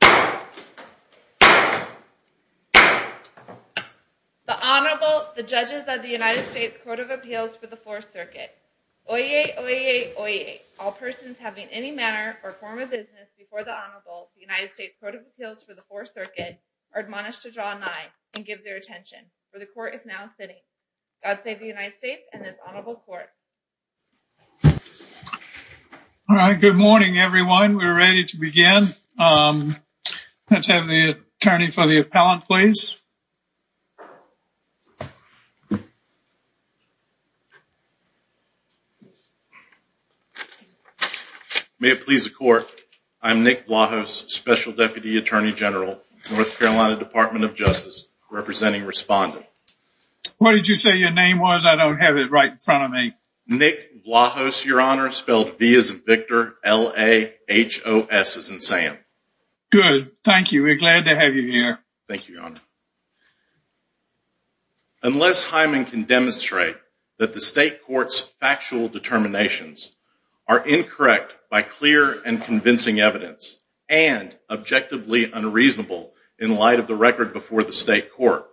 The Honorable, the Judges of the United States Court of Appeals for the Fourth Circuit. Oyez, oyez, oyez, all persons having any manner or form of business before the Honorable, the United States Court of Appeals for the Fourth Circuit, are admonished to draw nigh and give their attention, for the Court is now sitting. God save the United States and this Honorable Court. All right. Good morning, everyone. We're ready to begin. Let's have the attorney for the appellant, please. May it please the Court, I'm Nick Vlahos, Special Deputy Attorney General, North Carolina Department of Justice, representing respondent. What did you say your name was? I don't have it right in front of me. Nick Vlahos, Your Honor, spelled V as in Victor, L-A-H-O-S as in Sam. Good. Thank you. We're glad to have you here. Thank you, Your Honor. Unless Hyman can demonstrate that the State Court's factual determinations are incorrect by clear and convincing evidence and objectively unreasonable in light of the record before the State Court,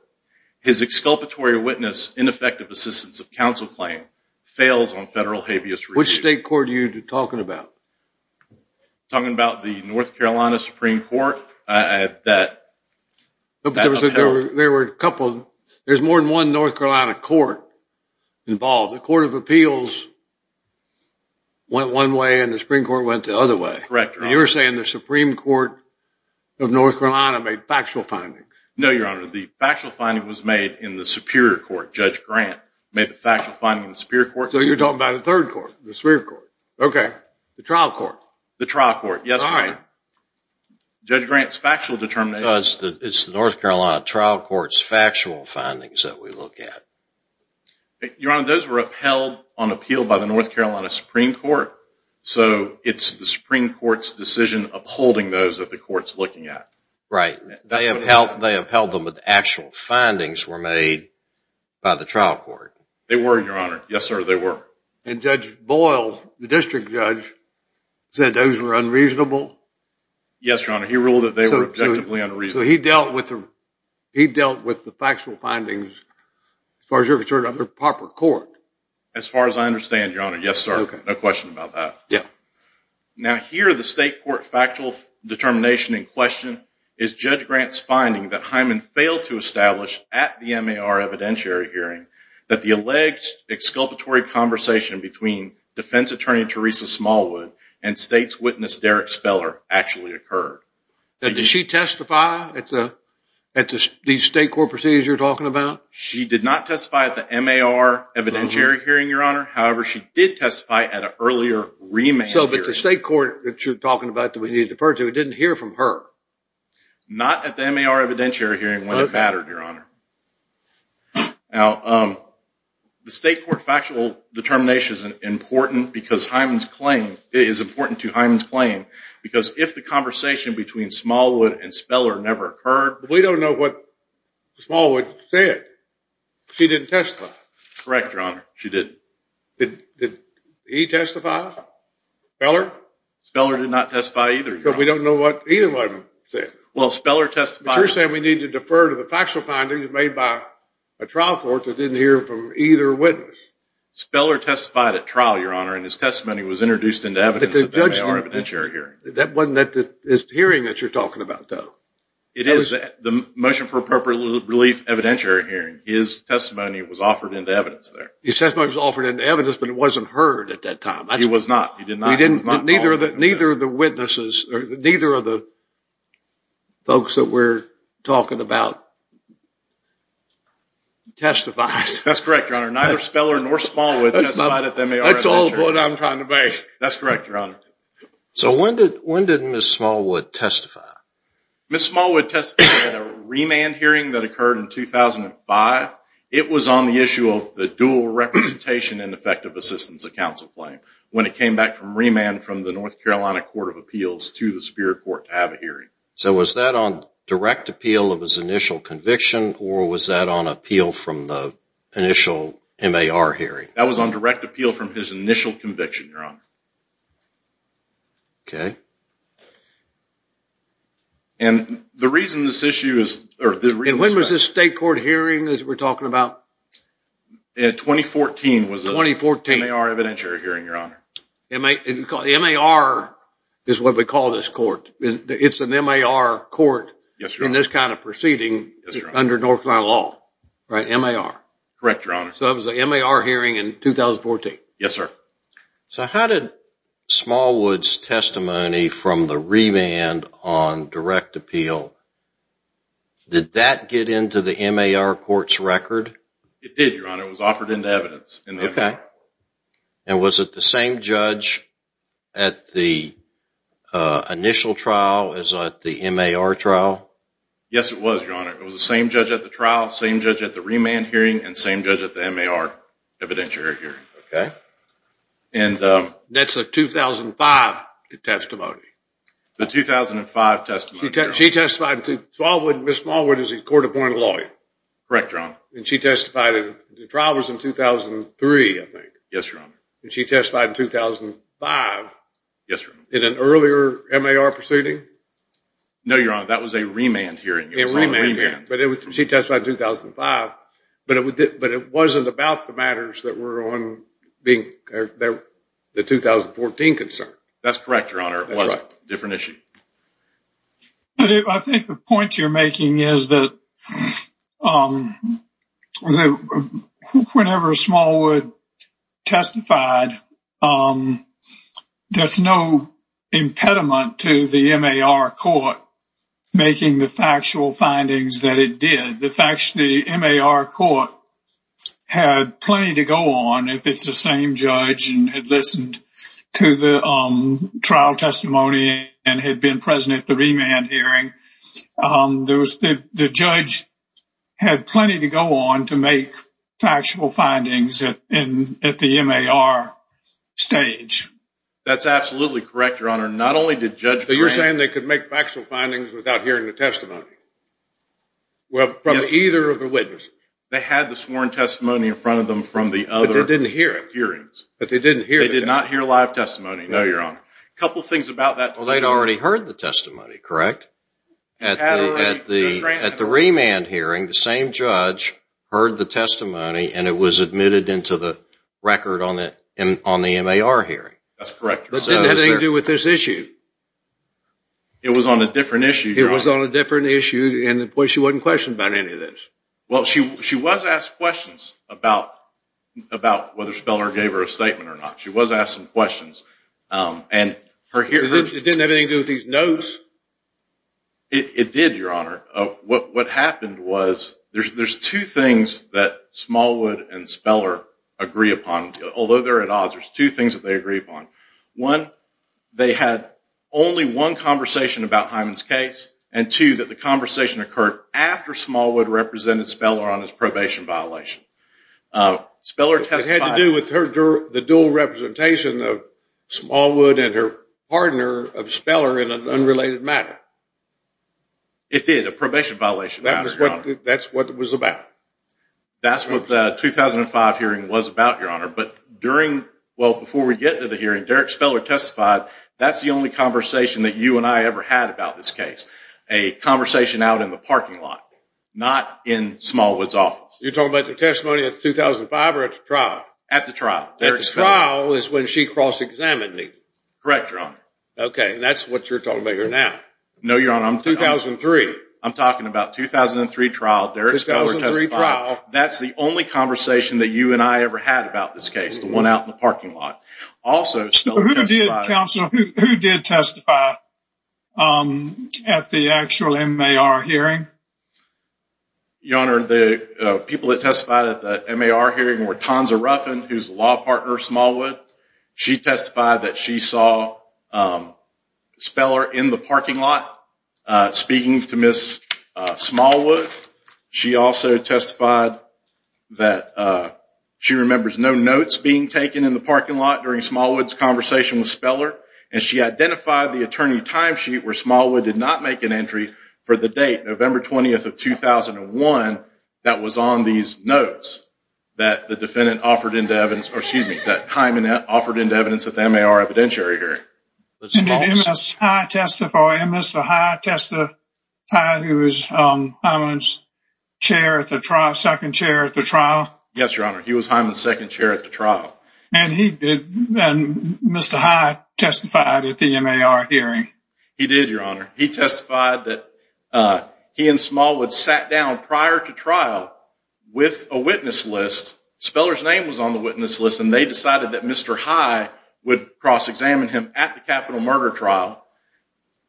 his exculpatory witness, ineffective assistance of counsel claim, fails on federal habeas review. Which State Court are you talking about? I'm talking about the North Carolina Supreme Court. There's more than one North Carolina court involved. The Court of Appeals went one way and the Supreme Court went the other way. Correct, Your Honor. You're saying the Supreme Court of North Carolina made factual findings. No, Your Honor. The factual finding was made in the Superior Court. Judge Grant made the factual finding in the Superior Court. So you're talking about the Third Court, the Superior Court. Okay. The trial court. The trial court. Yes, Your Honor. Judge Grant's factual determination. It's the North Carolina trial court's factual findings that we look at. Your Honor, those were upheld on appeal by the North Carolina Supreme Court, so it's the Supreme Court's decision upholding those that the court's looking at. Right. They upheld them, but the actual findings were made by the trial court. They were, Your Honor. Yes, sir, they were. And Judge Boyle, the district judge, said those were unreasonable? Yes, Your Honor. He ruled that they were objectively unreasonable. So he dealt with the factual findings as far as you're concerned under proper court? As far as I understand, Your Honor. Yes, sir. No question about that. Now here, the state court factual determination in question is Judge Grant's finding that Hyman failed to establish at the MAR evidentiary hearing that the alleged exculpatory conversation between defense attorney Teresa Smallwood and state's witness Derek Speller actually occurred. Did she testify at the state court proceedings you're talking about? She did not testify at the MAR evidentiary hearing, Your Honor. However, she did testify at an earlier remand hearing. So the state court that you're talking about that we need to defer to didn't hear from her? Not at the MAR evidentiary hearing when it mattered, Your Honor. Now, the state court factual determination is important because Hyman's claim is important to Hyman's claim because if the conversation between Smallwood and Speller never occurred… We don't know what Smallwood said. She didn't testify. Correct, Your Honor. She didn't. Did he testify? Speller? Speller did not testify either, Your Honor. But we don't know what either of them said. Well, Speller testified… But you're saying we need to defer to the factual findings made by a trial court that didn't hear from either witness. Speller testified at trial, Your Honor, and his testimony was introduced into evidence at the MAR evidentiary hearing. That wasn't that hearing that you're talking about, though. It is. The motion for appropriate relief evidentiary hearing. His testimony was offered into evidence there. His testimony was offered into evidence, but it wasn't heard at that time. It was not. Neither of the witnesses or neither of the folks that we're talking about testified. That's correct, Your Honor. Neither Speller nor Smallwood testified at the MAR… That's all the point I'm trying to make. That's correct, Your Honor. So when did Ms. Smallwood testify? Ms. Smallwood testified at a remand hearing that occurred in 2005. It was on the issue of the dual representation and effective assistance of counsel claim when it came back from remand from the North Carolina Court of Appeals to the Superior Court to have a hearing. So was that on direct appeal of his initial conviction, or was that on appeal from the initial MAR hearing? That was on direct appeal from his initial conviction, Your Honor. Okay. And the reason this issue is… And when was this state court hearing that we're talking about? In 2014. 2014. MAR evidentiary hearing, Your Honor. MAR is what we call this court. It's an MAR court in this kind of proceeding under North Carolina law. Yes, Your Honor. Right, MAR. Correct, Your Honor. So it was a MAR hearing in 2014. Yes, sir. So how did Smallwood's testimony from the remand on direct appeal, did that get into the MAR court's record? It did, Your Honor. It was offered into evidence in the MAR. Okay. And was it the same judge at the initial trial as at the MAR trial? Yes, it was, Your Honor. It was the same judge at the trial, same judge at the remand hearing, and same judge at the MAR evidentiary hearing. Okay. And… That's a 2005 testimony. The 2005 testimony, Your Honor. She testified in… Smallwood, Ms. Smallwood is a court-appointed lawyer. Correct, Your Honor. And she testified in… The trial was in 2003, I think. Yes, Your Honor. And she testified in 2005. Yes, Your Honor. In an earlier MAR proceeding? No, Your Honor. That was a remand hearing. It was a remand hearing. But it was… She testified in 2005. But it wasn't about the matters that were on the 2014 concern. That's correct, Your Honor. It was a different issue. I think the point you're making is that whenever Smallwood testified, there's no impediment to the MAR court making the factual findings that it did. The MAR court had plenty to go on if it's the same judge and had listened to the trial testimony and had been present at the remand hearing. The judge had plenty to go on to make factual findings at the MAR stage. That's absolutely correct, Your Honor. Not only did Judge Graham… But you're saying they could make factual findings without hearing the testimony? Well, from either of the witnesses. They had the sworn testimony in front of them from the other hearings. But they didn't hear it. They did not hear live testimony. No, Your Honor. A couple things about that. Well, they'd already heard the testimony, correct? At the remand hearing, the same judge heard the testimony and it was admitted into the record on the MAR hearing. That's correct, Your Honor. It was on a different issue, Your Honor. It was on a different issue and she wasn't questioned about any of this. Well, she was asked questions about whether Speller gave her a statement or not. She was asked some questions. It didn't have anything to do with these notes. It did, Your Honor. What happened was there's two things that Smallwood and Speller agree upon, although they're at odds. There's two things that they agree upon. One, they had only one conversation about Hyman's case. And two, that the conversation occurred after Smallwood represented Speller on his probation violation. It had to do with the dual representation of Smallwood and her partner of Speller in an unrelated matter. It did, a probation violation, Your Honor. That's what it was about. Well, before we get to the hearing, Derrick Speller testified that's the only conversation that you and I ever had about this case. A conversation out in the parking lot, not in Smallwood's office. You're talking about the testimony of 2005 or at the trial? At the trial. At the trial is when she cross-examined me. Correct, Your Honor. Okay, that's what you're talking about here now. No, Your Honor. I'm talking about 2003 trial, Derrick Speller testified. 2003 trial. Now, that's the only conversation that you and I ever had about this case, the one out in the parking lot. Also, Speller testified. Who did, counsel, who did testify at the actual MAR hearing? Your Honor, the people that testified at the MAR hearing were Tonza Ruffin, who's a law partner of Smallwood. She testified that she saw Speller in the parking lot speaking to Ms. Smallwood. She also testified that she remembers no notes being taken in the parking lot during Smallwood's conversation with Speller. And she identified the attorney timesheet where Smallwood did not make an entry for the date, November 20th of 2001, that was on these notes that the defendant offered into evidence, or excuse me, that Hyman offered into evidence at the MAR evidentiary hearing. Did Mr. Hyman testify, who was Hyman's second chair at the trial? Yes, Your Honor, he was Hyman's second chair at the trial. And Mr. Hyman testified at the MAR hearing? He did, Your Honor. He testified that he and Smallwood sat down prior to trial with a witness list. Speller's name was on the witness list, and they decided that Mr. High would cross-examine him at the capital murder trial.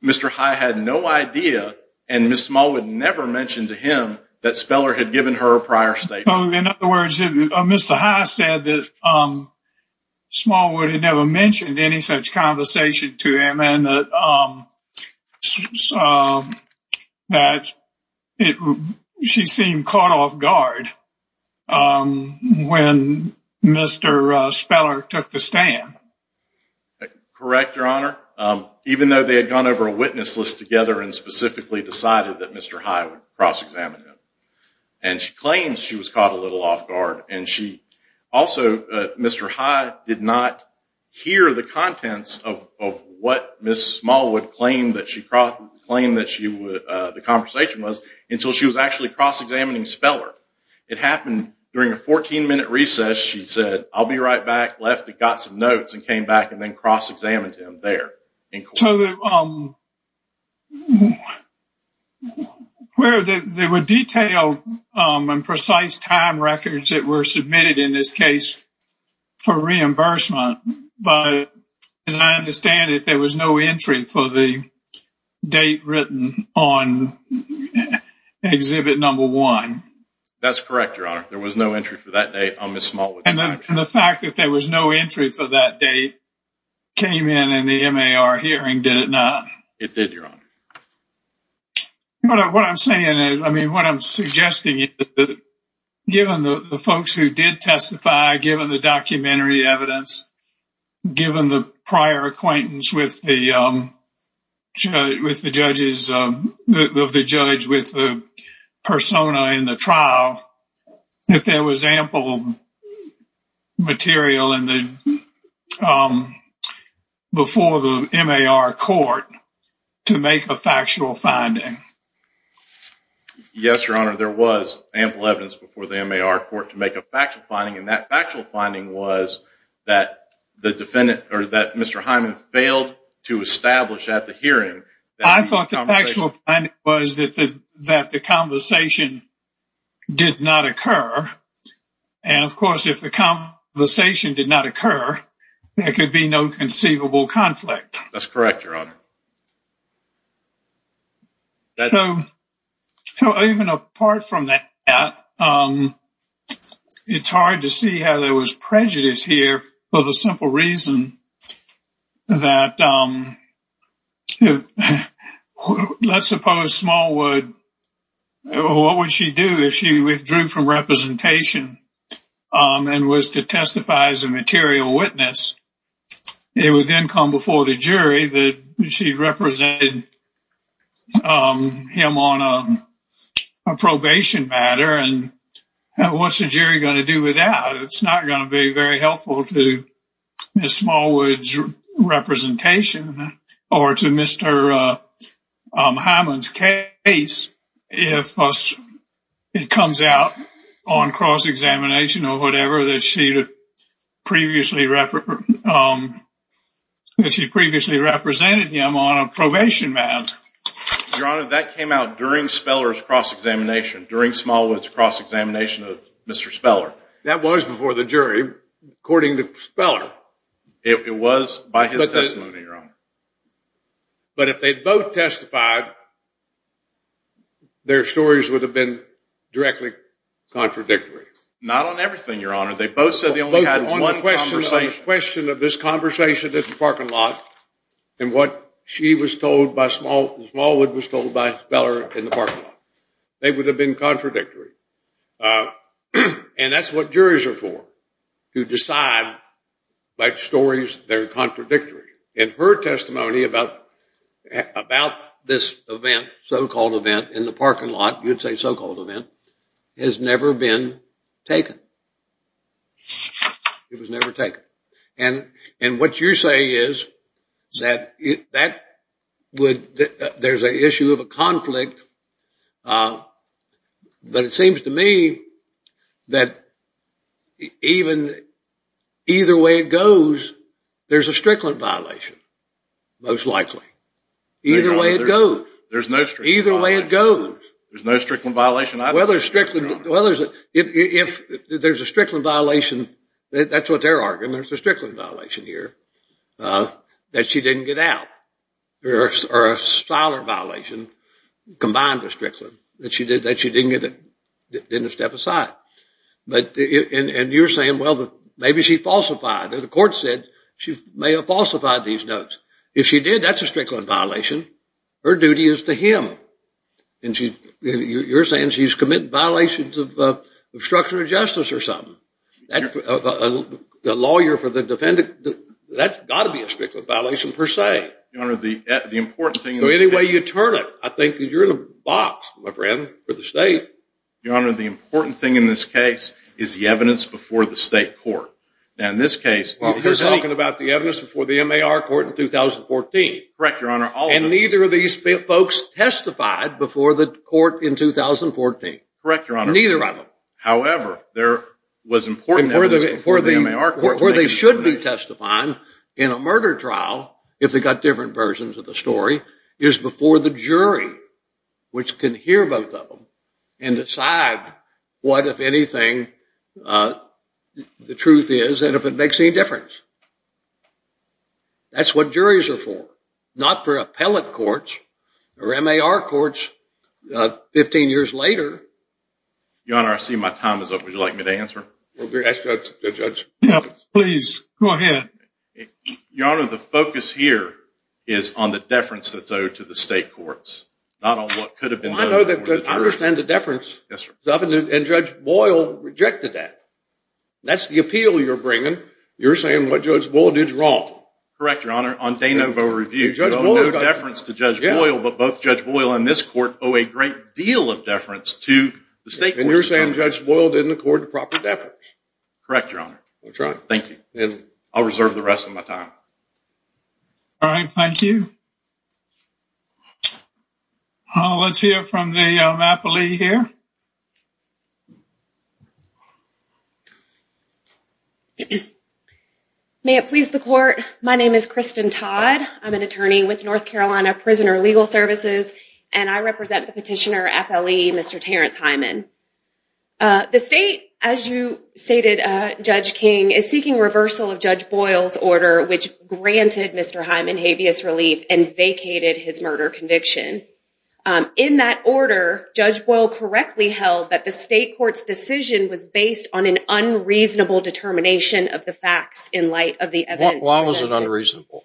Mr. High had no idea, and Ms. Smallwood never mentioned to him that Speller had given her a prior statement. So, in other words, Mr. High said that Smallwood had never mentioned any such conversation to him, and that she seemed caught off guard when Mr. Speller took the stand. Correct, Your Honor. Even though they had gone over a witness list together and specifically decided that Mr. High would cross-examine him. And she claimed she was caught a little off guard. Also, Mr. High did not hear the contents of what Ms. Smallwood claimed that the conversation was until she was actually cross-examining Speller. It happened during a 14-minute recess. She said, I'll be right back, left and got some notes, and came back and then cross-examined him there. So, there were detailed and precise time records that were submitted in this case for reimbursement, but as I understand it, there was no entry for the date written on Exhibit No. 1. That's correct, Your Honor. There was no entry for that date on Ms. Smallwood's record. And the fact that there was no entry for that date came in in the MAR hearing, did it not? It did, Your Honor. What I'm saying is, I mean, what I'm suggesting is that given the folks who did testify, given the documentary evidence, given the prior acquaintance of the judge with the persona in the trial, that there was ample material before the MAR court to make a factual finding. Yes, Your Honor, there was ample evidence before the MAR court to make a factual finding, and that factual finding was that Mr. Hyman failed to establish at the hearing... I thought the factual finding was that the conversation did not occur, and of course, if the conversation did not occur, there could be no conceivable conflict. That's correct, Your Honor. So even apart from that, it's hard to see how there was prejudice here for the simple reason that, let's suppose Smallwood, what would she do if she withdrew from representation and was to testify as a material witness? It would then come before the jury that she represented him on a probation matter, and what's the jury going to do with that? It's not going to be very helpful to Ms. Smallwood's representation or to Mr. Hyman's case if it comes out on cross-examination or whatever that she previously represented him on a probation matter. Your Honor, that came out during Smallwood's cross-examination of Mr. Speller. That was before the jury, according to Speller. It was by his testimony, Your Honor. But if they both testified, their stories would have been directly contradictory. Not on everything, Your Honor. They both said they only had one conversation. On the question of this conversation at the parking lot and what she was told by Smallwood was told by Speller in the parking lot. They would have been contradictory. And that's what juries are for, to decide by stories that are contradictory. And her testimony about this event, so-called event, in the parking lot, you'd say so-called event, has never been taken. It was never taken. And what you're saying is that there's an issue of a conflict, but it seems to me that either way it goes, there's a Strickland violation, most likely. Either way it goes. There's no Strickland violation. Either way it goes. There's no Strickland violation either, Your Honor. If there's a Strickland violation, that's what their argument is, a Strickland violation here, that she didn't get out. Or a Siler violation combined with Strickland, that she didn't step aside. And you're saying, well, maybe she falsified. The court said she may have falsified these notes. If she did, that's a Strickland violation. Her duty is to him. And you're saying she's committed violations of structure of justice or something. The lawyer for the defendant, that's got to be a Strickland violation per se. Your Honor, the important thing is- So any way you turn it, I think you're in a box, my friend, for the state. Your Honor, the important thing in this case is the evidence before the state court. Now in this case- You're talking about the evidence before the MAR court in 2014. Correct, Your Honor. And neither of these folks testified before the court in 2014. Correct, Your Honor. Neither of them. However, there was important evidence before the MAR court- Where they should be testifying in a murder trial, if they've got different versions of the story, is before the jury, which can hear both of them and decide what, if anything, the truth is and if it makes any difference. That's what juries are for. Not for appellate courts or MAR courts 15 years later. Your Honor, I see my time is up. Would you like me to answer? Yes, Judge. Please, go ahead. Your Honor, the focus here is on the deference that's owed to the state courts, not on what could have been- I understand the deference. Yes, sir. And Judge Boyle rejected that. That's the appeal you're bringing. You're saying what Judge Boyle did is wrong. Correct, Your Honor. On De Novo Review, there's no deference to Judge Boyle, but both Judge Boyle and this court owe a great deal of deference to the state courts. And you're saying Judge Boyle didn't accord the proper deference? Correct, Your Honor. I'll try. Thank you. I'll reserve the rest of my time. All right. Thank you. Let's hear from the appellee here. May it please the court, my name is Kristen Todd. I'm an attorney with North Carolina Prisoner Legal Services, and I represent the petitioner, FLE, Mr. Terrence Hyman. The state, as you stated, Judge King, is seeking reversal of Judge Boyle's order, which granted Mr. Hyman habeas relief and vacated his murder conviction. In that order, Judge Boyle correctly held that the state court's decision was based on an unreasonable determination of the facts in light of the evidence presented. Why was it unreasonable?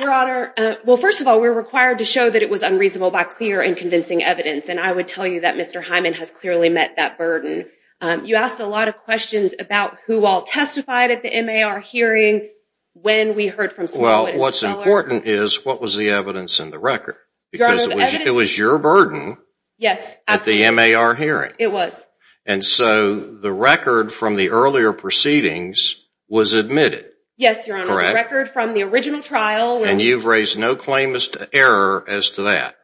Your Honor, well, first of all, we were required to show that it was unreasonable by clear and convincing evidence, and I would tell you that Mr. Hyman has clearly met that burden. You asked a lot of questions about who all testified at the MAR hearing, when we heard from Smollett and Steller. Well, what's important is what was the evidence in the record, because it was your burden at the MAR hearing. It was. And so the record from the earlier proceedings was admitted. Yes, Your Honor. The record from the original trial. And you've raised no claim as to error as to that.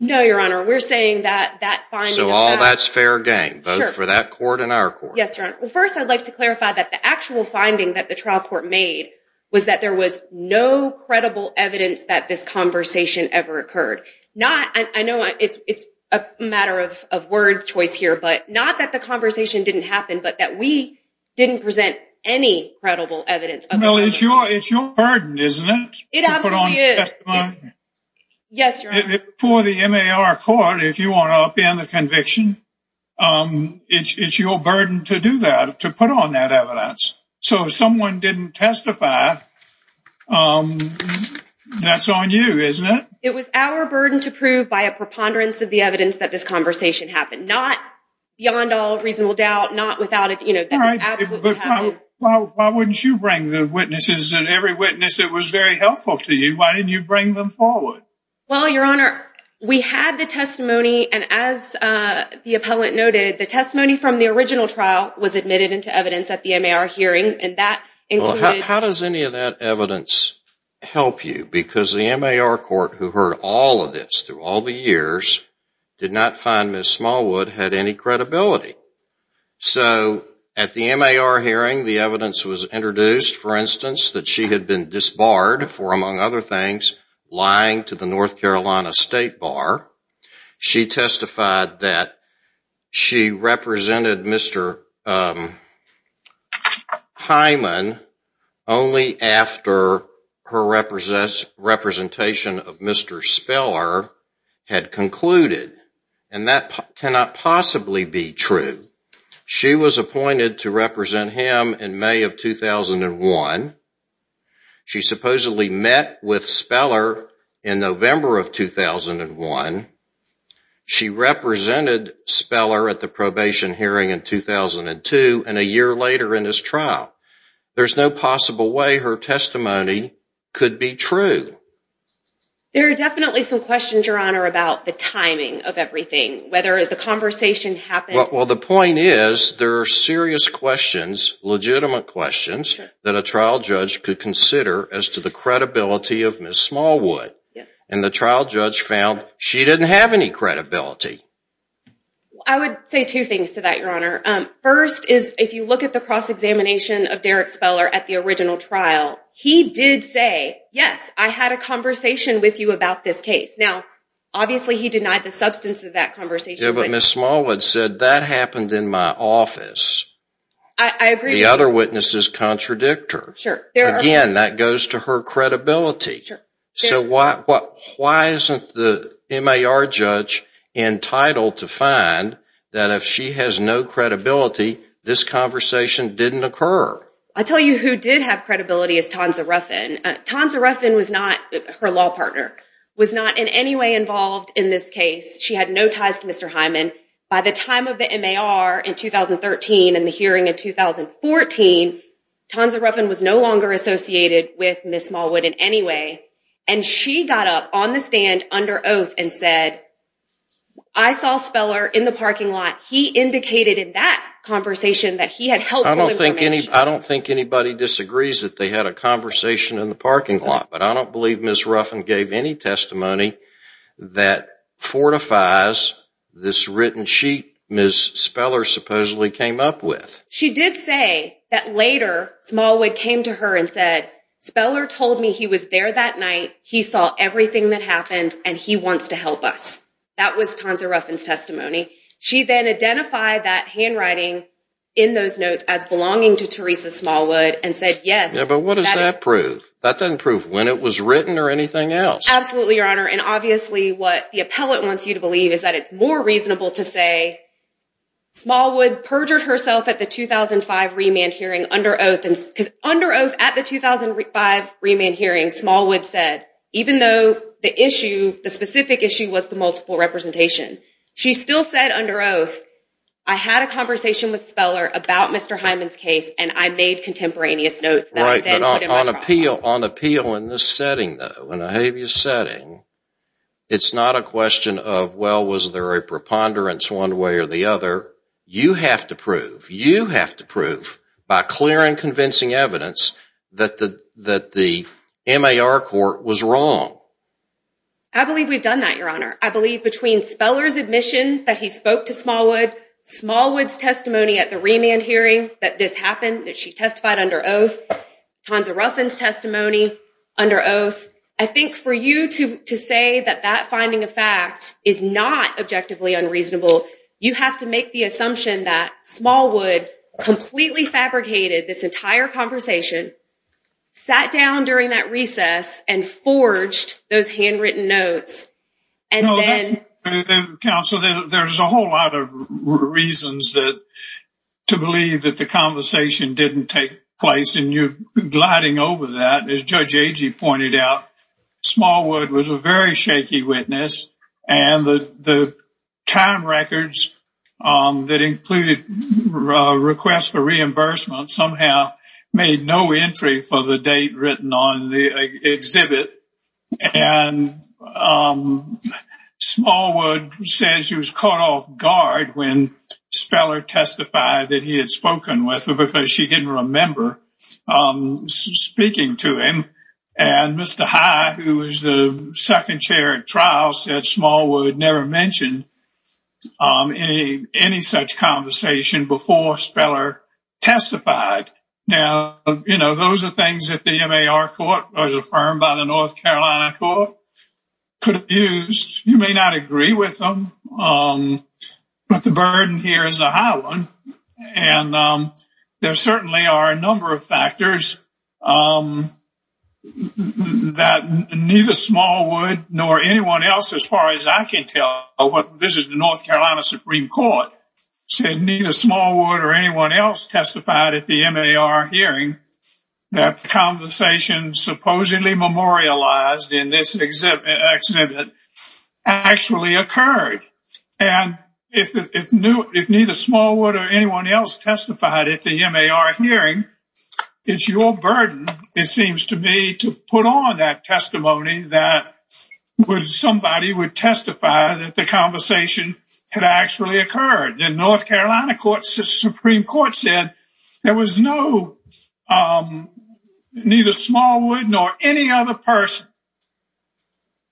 No, Your Honor. We're saying that that finding of that. So all that's fair game, both for that court and our court. Yes, Your Honor. Well, first I'd like to clarify that the actual finding that the trial court made was that there was no credible evidence that this conversation ever occurred. I know it's a matter of word choice here, but not that the conversation didn't happen, but that we didn't present any credible evidence. Well, it's your burden, isn't it? It absolutely is. Yes, Your Honor. For the MAR court, if you want to upend the conviction, it's your burden to do that, to put on that evidence. So if someone didn't testify, that's on you, isn't it? It was our burden to prove by a preponderance of the evidence that this conversation happened, not beyond all reasonable doubt, not without it. Why wouldn't you bring the witnesses, and every witness that was very helpful to you, why didn't you bring them forward? Well, Your Honor, we had the testimony, and as the appellant noted, the testimony from the original trial was admitted into evidence at the MAR hearing. How does any of that evidence help you? Because the MAR court who heard all of this through all the years did not find Ms. Smallwood had any credibility. So at the MAR hearing, the evidence was introduced, for instance, that she had been disbarred for, among other things, lying to the North Carolina State Bar. She testified that she represented Mr. Hyman only after her representation of Mr. Speller had concluded, and that cannot possibly be true. She was appointed to represent him in May of 2001. She supposedly met with Speller in November of 2001. She represented Speller at the probation hearing in 2002, and a year later in his trial. There's no possible way her testimony could be true. There are definitely some questions, Your Honor, about the timing of everything, whether the conversation happened... Well, the point is there are serious questions, legitimate questions, that a trial judge could consider as to the credibility of Ms. Smallwood. And the trial judge found she didn't have any credibility. I would say two things to that, Your Honor. First is if you look at the cross-examination of Derrick Speller at the original trial, he did say, yes, I had a conversation with you about this case. Now, obviously, he denied the substance of that conversation. Yeah, but Ms. Smallwood said, that happened in my office. I agree. The other witnesses contradict her. Sure. Again, that goes to her credibility. Sure. So why isn't the MAR judge entitled to find that if she has no credibility, this conversation didn't occur? I'll tell you who did have credibility is Tonza Ruffin. Tonza Ruffin was not her law partner, was not in any way involved in this case. She had no ties to Mr. Hyman. By the time of the MAR in 2013 and the hearing in 2014, Tonza Ruffin was no longer associated with Ms. Smallwood in any way, and she got up on the stand under oath and said, I saw Speller in the parking lot. He indicated in that conversation that he had helped her with her marriage. I don't think anybody disagrees that they had a conversation in the parking lot, but I don't believe Ms. Ruffin gave any testimony that fortifies this written sheet Ms. Speller supposedly came up with. She did say that later Smallwood came to her and said, Speller told me he was there that night, he saw everything that happened, and he wants to help us. That was Tonza Ruffin's testimony. She then identified that handwriting in those notes as belonging to Teresa Smallwood and said yes. Yeah, but what does that prove? That doesn't prove when it was written or anything else. Absolutely, Your Honor. And obviously what the appellate wants you to believe is that it's more reasonable to say Smallwood perjured herself at the 2005 remand hearing under oath. Because under oath at the 2005 remand hearing, Smallwood said, even though the specific issue was the multiple representation, she still said under oath, I had a conversation with Speller about Mr. Hyman's case and I made contemporaneous notes that I then put in my trial. Right, but on appeal in this setting, though, in a habeas setting, it's not a question of, well, was there a preponderance one way or the other. You have to prove, you have to prove by clear and convincing evidence that the MAR court was wrong. I believe we've done that, Your Honor. I believe between Speller's admission that he spoke to Smallwood, Smallwood's testimony at the remand hearing that this happened, that she testified under oath, Tonza Ruffin's testimony under oath, I think for you to say that that finding of fact is not objectively unreasonable, you have to make the assumption that Smallwood completely fabricated this entire conversation, sat down during that recess, and forged those handwritten notes. Counsel, there's a whole lot of reasons to believe that the conversation didn't take place, and you're gliding over that. As Judge Agee pointed out, Smallwood was a very shaky witness, and the time records that included requests for reimbursement somehow made no entry for the date written on the exhibit. And Smallwood says she was caught off guard when Speller testified that he had spoken with her speaking to him, and Mr. High, who was the second chair at trial, said Smallwood never mentioned any such conversation before Speller testified. Now, you know, those are things that the MAR court was affirmed by the North Carolina court could have used. You may not agree with them, but the burden here is a high one, and there certainly are a number of factors that neither Smallwood nor anyone else, as far as I can tell, this is the North Carolina Supreme Court, said neither Smallwood or anyone else testified at the MAR hearing that the conversation supposedly memorialized in this exhibit actually occurred. And if neither Smallwood or anyone else testified at the MAR hearing, it's your burden, it seems to me, to put on that testimony that somebody would testify that the conversation had actually occurred. The North Carolina Supreme Court said there was no, neither Smallwood nor any other person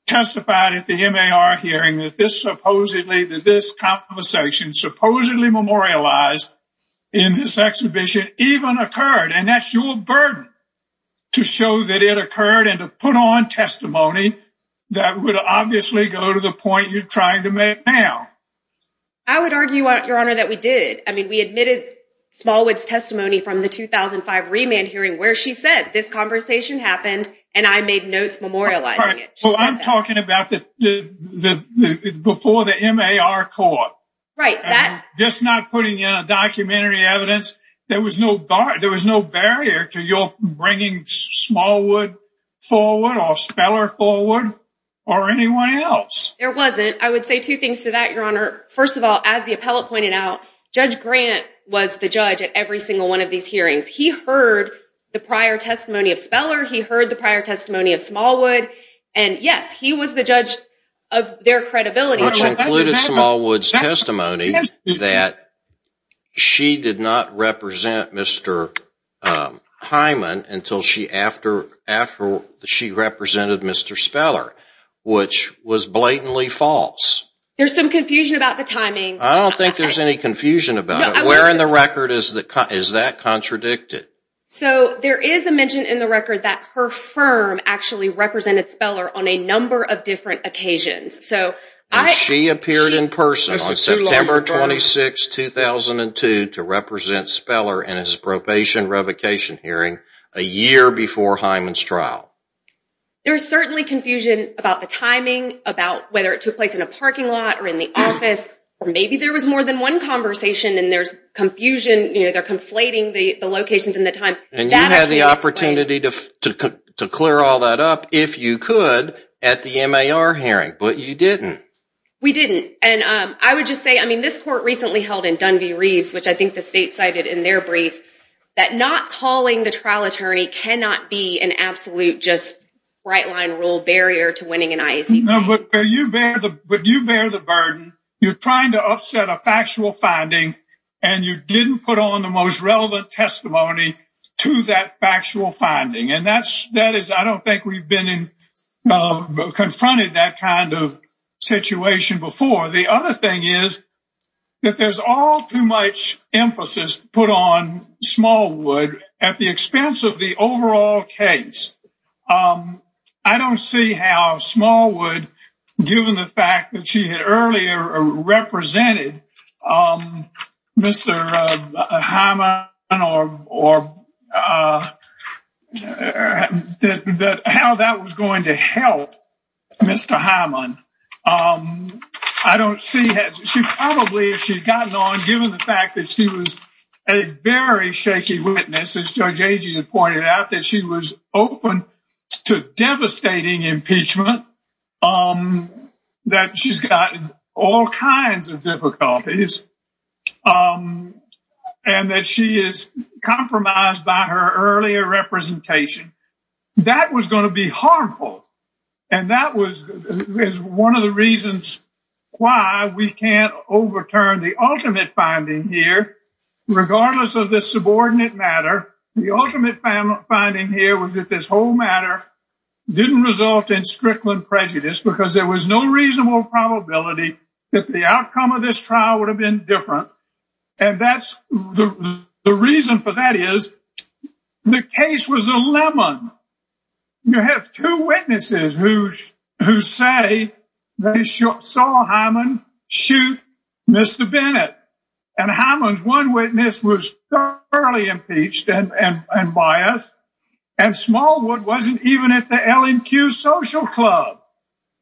testified at the MAR hearing that this supposedly, that this conversation supposedly memorialized in this exhibition even occurred, and that's your burden to show that it occurred and to put on testimony that would obviously go to the point you're trying to make now. I would argue, Your Honor, that we did. I mean, we admitted Smallwood's testimony from the 2005 remand hearing where she said that this conversation happened and I made notes memorializing it. Well, I'm talking about before the MAR court. Right. Just not putting in a documentary evidence. There was no barrier to your bringing Smallwood forward or Speller forward or anyone else. There wasn't. I would say two things to that, Your Honor. First of all, as the appellate pointed out, Judge Grant was the judge at every single one of these hearings. He heard the prior testimony of Speller. He heard the prior testimony of Smallwood. And, yes, he was the judge of their credibility. Which included Smallwood's testimony that she did not represent Mr. Hyman until she represented Mr. Speller, which was blatantly false. There's some confusion about the timing. I don't think there's any confusion about it. Where in the record is that contradicted? So, there is a mention in the record that her firm actually represented Speller on a number of different occasions. She appeared in person on September 26, 2002 to represent Speller in his probation revocation hearing a year before Hyman's trial. There's certainly confusion about the timing, about whether it took place in a parking lot or in the office, or maybe there was more than one conversation and there's confusion, you know, they're conflating the locations and the times. And you had the opportunity to clear all that up, if you could, at the MAR hearing. But you didn't. We didn't. And I would just say, I mean, this court recently held in Dunby-Reeves, which I think the state cited in their brief, that not calling the trial attorney No, but you bear the burden. You're trying to upset a factual finding, and you didn't put on the most relevant testimony to that factual finding. And that is, I don't think we've been confronted that kind of situation before. The other thing is that there's all too much emphasis put on Smallwood at the expense of the overall case. I don't see how Smallwood, given the fact that she had earlier represented Mr. Hyman or how that was going to help Mr. Hyman. I don't see, she probably, if she'd gotten on, given the fact that she was a very shaky witness, as Judge Agee had pointed out, that she was open to devastating impeachment, that she's gotten all kinds of difficulties, and that she is compromised by her earlier representation. That was going to be harmful. And that was one of the reasons why we can't overturn the ultimate finding here, regardless of this subordinate matter. The ultimate finding here was that this whole matter didn't result in Strickland prejudice because there was no reasonable probability that the outcome of this trial would have been different. And the reason for that is the case was a lemon. You have two witnesses who say they saw Hyman shoot Mr. Bennett, and Hyman's one witness was thoroughly impeached and biased, and Smallwood wasn't even at the LNQ social club.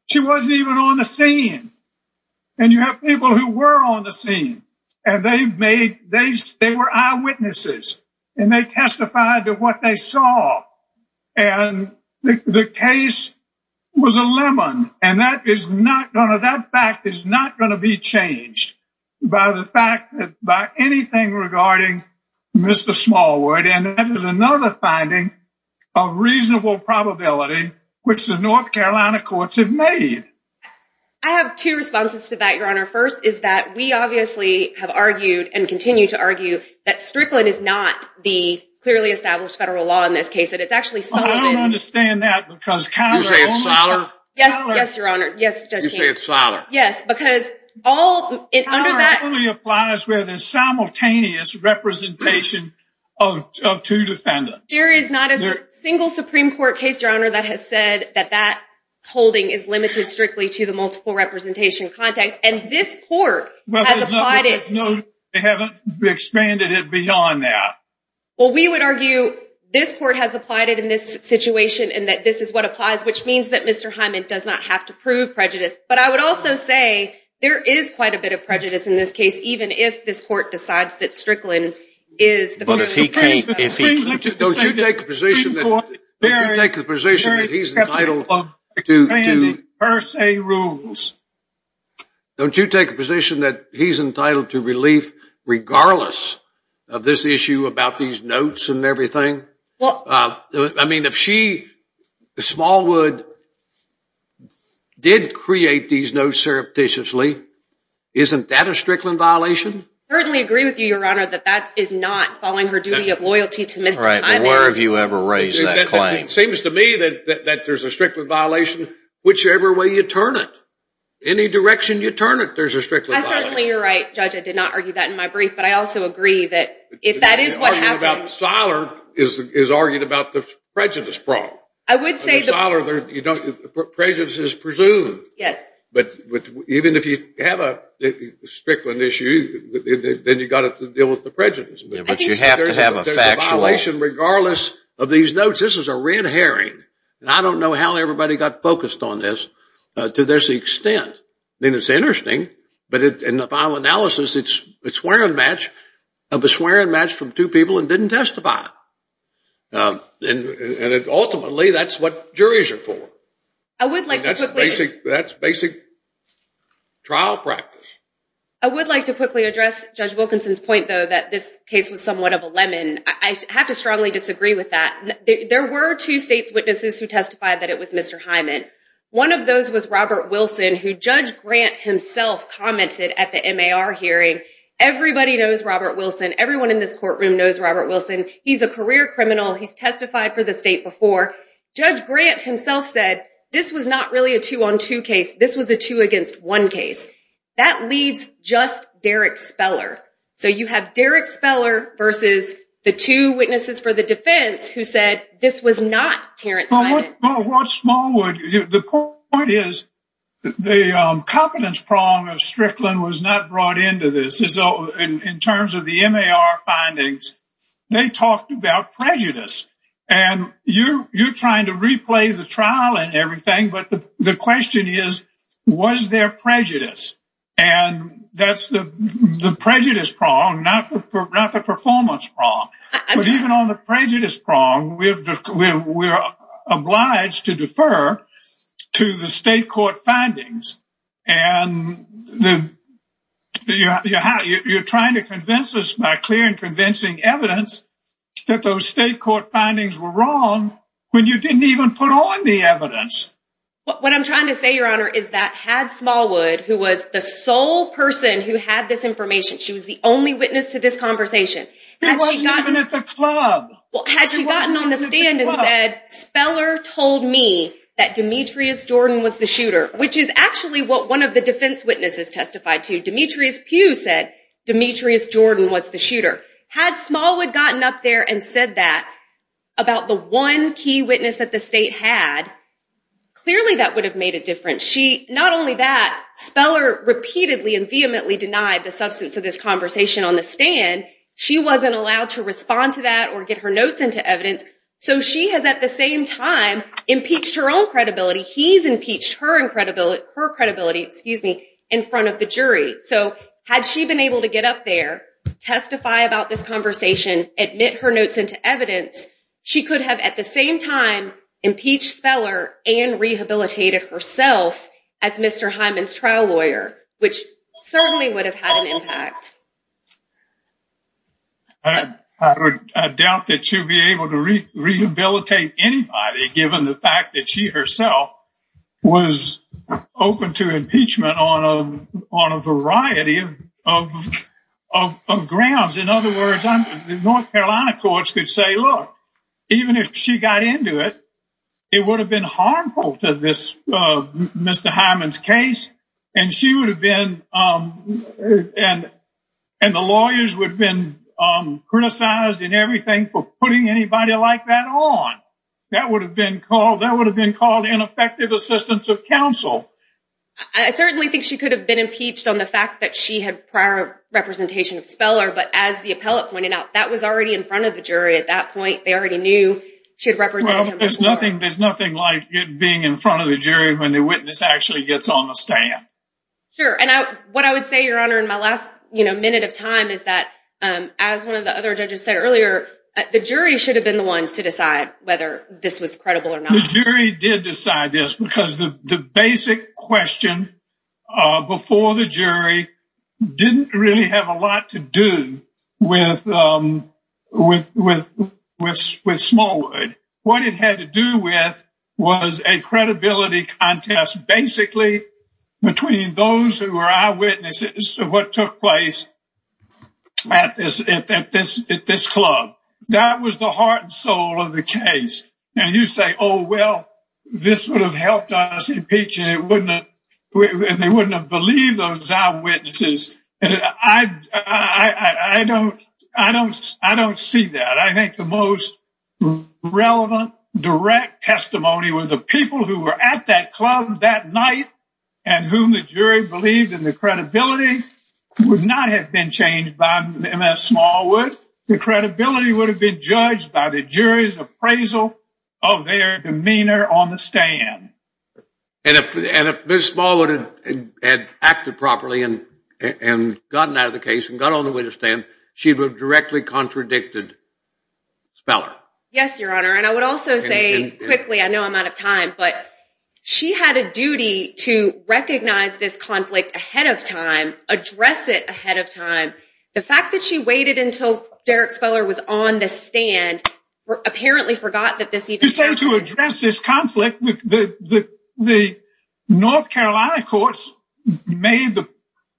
She wasn't even on the scene. And you have people who were on the scene, and they were eyewitnesses, and they testified to what they saw. And the case was a lemon, and that fact is not going to be changed by anything regarding Mr. Smallwood, and that is another finding of reasonable probability which the North Carolina courts have made. I have two responses to that, Your Honor. First is that we obviously have argued and continue to argue that Strickland is not the clearly established federal law in this case. I don't understand that. You say it's solid? Yes, Your Honor. You say it's solid? Yes. It only applies where there's simultaneous representation of two defendants. There is not a single Supreme Court case, Your Honor, that has said that that holding is limited strictly to the multiple representation context, and this court has applied it. They haven't expanded it beyond that. Well, we would argue this court has applied it in this situation and that this is what applies, which means that Mr. Hyman does not have to prove prejudice. But I would also say there is quite a bit of prejudice in this case, even if this court decides that Strickland is the clearly established federal law. But if he can't, if he can't, don't you take the position that he's entitled to per se rules. Don't you take the position that he's entitled to relief, regardless of this issue about these notes and everything? I mean, if she, Smallwood, did create these notes surreptitiously, isn't that a Strickland violation? I certainly agree with you, Your Honor, that that is not following her duty of loyalty to Mr. Hyman. Right, but where have you ever raised that claim? It seems to me that there's a Strickland violation whichever way you turn it. Any direction you turn it, there's a Strickland violation. I certainly, you're right, Judge. I did not argue that in my brief. But I also agree that if that is what happened. Siler is arguing about the prejudice problem. I would say the prejudice is presumed. Yes. But even if you have a Strickland issue, then you've got to deal with the prejudice. But you have to have a factual. There's a violation regardless of these notes. This is a red herring. And I don't know how everybody got focused on this to this extent. I mean, it's interesting. But in the final analysis, it's a swearing match of a swearing match from two people and didn't testify. And ultimately, that's what juries are for. That's basic trial practice. I would like to quickly address Judge Wilkinson's point, though, that this case was somewhat of a lemon. I have to strongly disagree with that. There were two state's witnesses who testified that it was Mr. Hyman. One of those was Robert Wilson, who Judge Grant himself commented at the MAR hearing. Everybody knows Robert Wilson. Everyone in this courtroom knows Robert Wilson. He's a career criminal. He's testified for the state before. Judge Grant himself said this was not really a two-on-two case. This was a two-against-one case. That leaves just Derek Speller. So you have Derek Speller versus the two witnesses for the defense who said this was not Terrence Hyman. Well, what Smallwood, the point is the competence prong of Strickland was not brought into this. In terms of the MAR findings, they talked about prejudice. And you're trying to replay the trial and everything, but the question is, was there prejudice? And that's the prejudice prong, not the performance prong. But even on the prejudice prong, we're obliged to defer to the state court findings. And you're trying to convince us by clear and convincing evidence that those state court findings were wrong when you didn't even put on the evidence. What I'm trying to say, Your Honor, is that had Smallwood, who was the sole person who had this information, she was the only witness to this conversation, had she gotten on the stand and said, Speller told me that Demetrius Jordan was the shooter, which is actually what one of the defense witnesses testified to. Demetrius Pugh said Demetrius Jordan was the shooter. Had Smallwood gotten up there and said that about the one key witness that the state had, clearly that would have made a difference. Not only that, Speller repeatedly and vehemently denied the substance of this conversation on the stand. She wasn't allowed to respond to that or get her notes into evidence. So she has, at the same time, impeached her own credibility. He's impeached her credibility in front of the jury. So had she been able to get up there, testify about this conversation, admit her notes into evidence, she could have, at the same time, impeached Speller and rehabilitated herself as Mr. Hyman's trial lawyer, which certainly would have had an impact. I doubt that she would be able to rehabilitate anybody, given the fact that she herself was open to impeachment on a variety of grounds. In other words, the North Carolina courts could say, look, even if she got into it, it would have been harmful to Mr. Hyman's case, and the lawyers would have been criticized and everything for putting anybody like that on. That would have been called ineffective assistance of counsel. I certainly think she could have been impeached on the fact that she had prior representation of Speller, but as the appellate pointed out, that was already in front of the jury at that point. They already knew she had represented him before. Well, there's nothing like being in front of the jury when the witness actually gets on the stand. Sure, and what I would say, Your Honor, in my last minute of time is that, as one of the other judges said earlier, the jury should have been the ones to decide whether this was credible or not. The jury did decide this because the basic question before the jury didn't really have a lot to do with Smallwood. What it had to do with was a credibility contest, basically, between those who were eyewitnesses to what took place at this club. That was the heart and soul of the case. And you say, oh, well, this would have helped us impeach, and they wouldn't have believed those eyewitnesses. I don't see that. I think the most relevant, direct testimony was the people who were at that club that night and whom the jury believed, and the credibility would not have been changed by Ms. Smallwood. The credibility would have been judged by the jury's appraisal of their demeanor on the stand. And if Ms. Smallwood had acted properly and gotten out of the case and got on the witness stand, she would have directly contradicted Speller. Yes, Your Honor, and I would also say quickly, I know I'm out of time, but she had a duty to recognize this conflict ahead of time, address it ahead of time. The fact that she waited until Derek Speller was on the stand apparently forgot that this even happened. To address this conflict, the North Carolina courts made the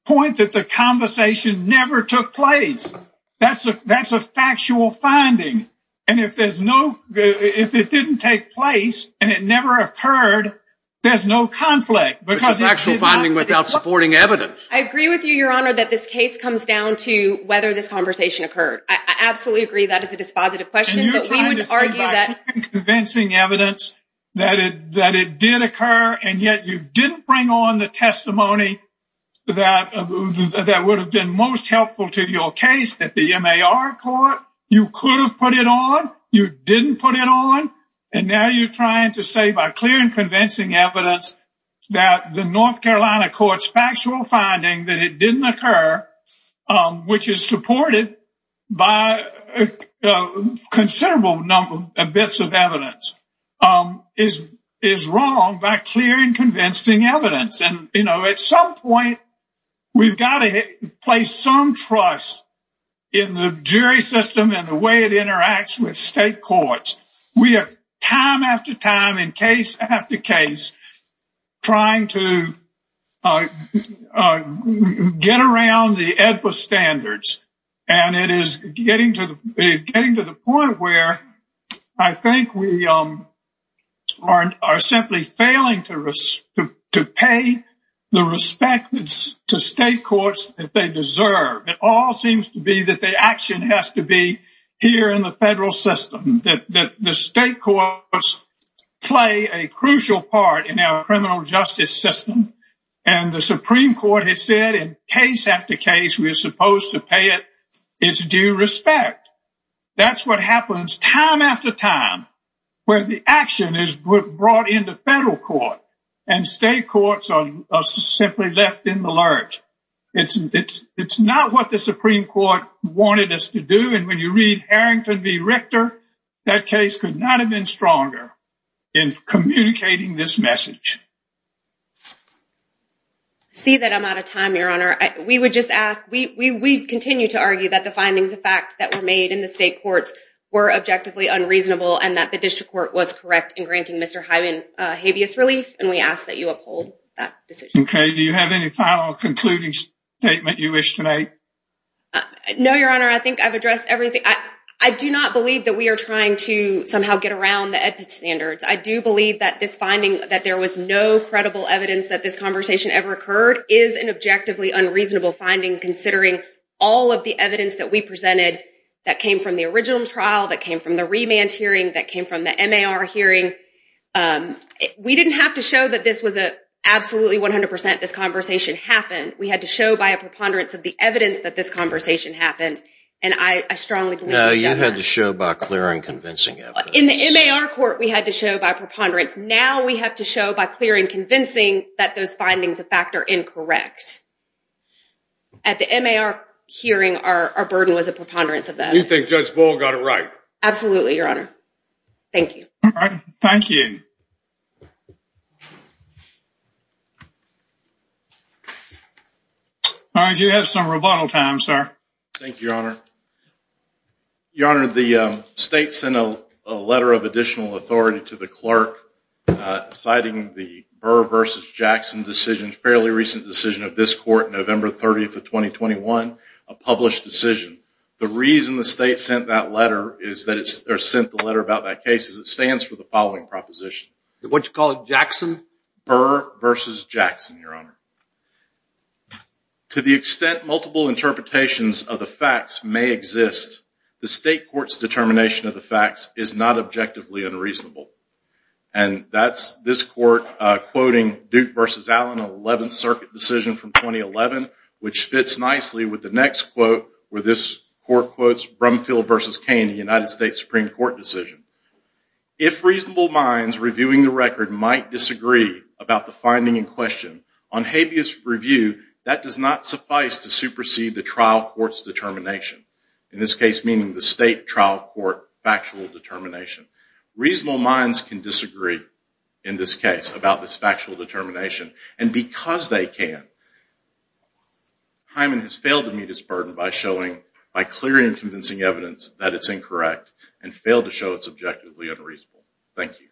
point that the conversation never took place. That's a factual finding. And if it didn't take place and it never occurred, there's no conflict. It's a factual finding without supporting evidence. I agree with you, Your Honor, that this case comes down to whether this conversation occurred. I absolutely agree that is a dispositive question. And you're trying to say by clear and convincing evidence that it did occur, and yet you didn't bring on the testimony that would have been most helpful to your case at the MAR court. You could have put it on. You didn't put it on. And now you're trying to say by clear and convincing evidence that the North Carolina court's factual finding that it didn't occur, which is supported by considerable bits of evidence, is wrong by clear and convincing evidence. And, you know, at some point, we've got to place some trust in the jury system and the way it interacts with state courts. We have time after time and case after case trying to get around the AEDPA standards. And it is getting to the point where I think we are simply failing to pay the respect to state courts that they deserve. It all seems to be that the action has to be here in the federal system, that the state courts play a crucial part in our criminal justice system. And the Supreme Court has said in case after case, we are supposed to pay it. It's due respect. That's what happens time after time where the action is brought in the federal court and state courts are simply left in the lurch. It's not what the Supreme Court wanted us to do. And when you read Harrington v. Richter, that case could not have been stronger in communicating this message. See that I'm out of time, Your Honor. We would just ask we continue to argue that the findings of fact that were made in the state courts were objectively unreasonable and that the district court was correct in granting Mr. Hyman habeas relief. And we ask that you uphold that decision. Do you have any final concluding statement you wish to make? No, Your Honor. I think I've addressed everything. I do not believe that we are trying to somehow get around the standards. I do believe that this finding that there was no credible evidence that this conversation ever occurred is an objectively unreasonable finding, considering all of the evidence that we presented that came from the original trial, that came from the remand hearing, that came from the hearing. We didn't have to show that this was absolutely 100% this conversation happened. We had to show by a preponderance of the evidence that this conversation happened. And I strongly believe that. No, you had to show by clear and convincing evidence. In the MAR court, we had to show by preponderance. Now we have to show by clear and convincing that those findings of fact are incorrect. At the MAR hearing, our burden was a preponderance of that. You think Judge Ball got it right? Absolutely, Your Honor. Thank you. All right, thank you. All right, you have some rebuttal time, sir. Thank you, Your Honor. Your Honor, the state sent a letter of additional authority to the clerk citing the Burr v. Jackson decision, fairly recent decision of this court, November 30th of 2021, a published decision. The reason the state sent that letter, or sent the letter about that case, is it stands for the following proposition. What did you call it, Jackson? Burr v. Jackson, Your Honor. To the extent multiple interpretations of the facts may exist, the state court's determination of the facts is not objectively unreasonable. And that's this court quoting Duke v. Allen, an 11th Circuit decision from 2011, which fits nicely with the next quote, where this court quotes Brumfield v. Kane, a United States Supreme Court decision. If reasonable minds reviewing the record might disagree about the finding in question, on habeas review, that does not suffice to supersede the trial court's determination. In this case, meaning the state trial court factual determination. Reasonable minds can disagree in this case about this factual determination. And because they can, Hyman has failed to meet its burden by showing, by clear and convincing evidence, that it's incorrect and failed to show it's objectively unreasonable. Thank you.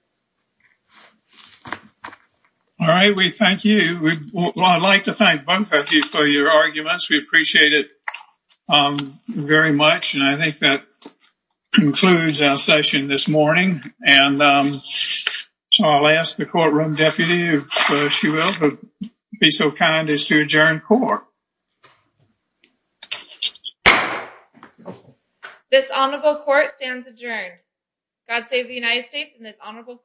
All right, we thank you. I'd like to thank both of you for your arguments. We appreciate it very much. And I think that concludes our session this morning. And I'll ask the courtroom deputy, if she will be so kind as to adjourn court. This honorable court stands adjourned. God save the United States and this honorable court.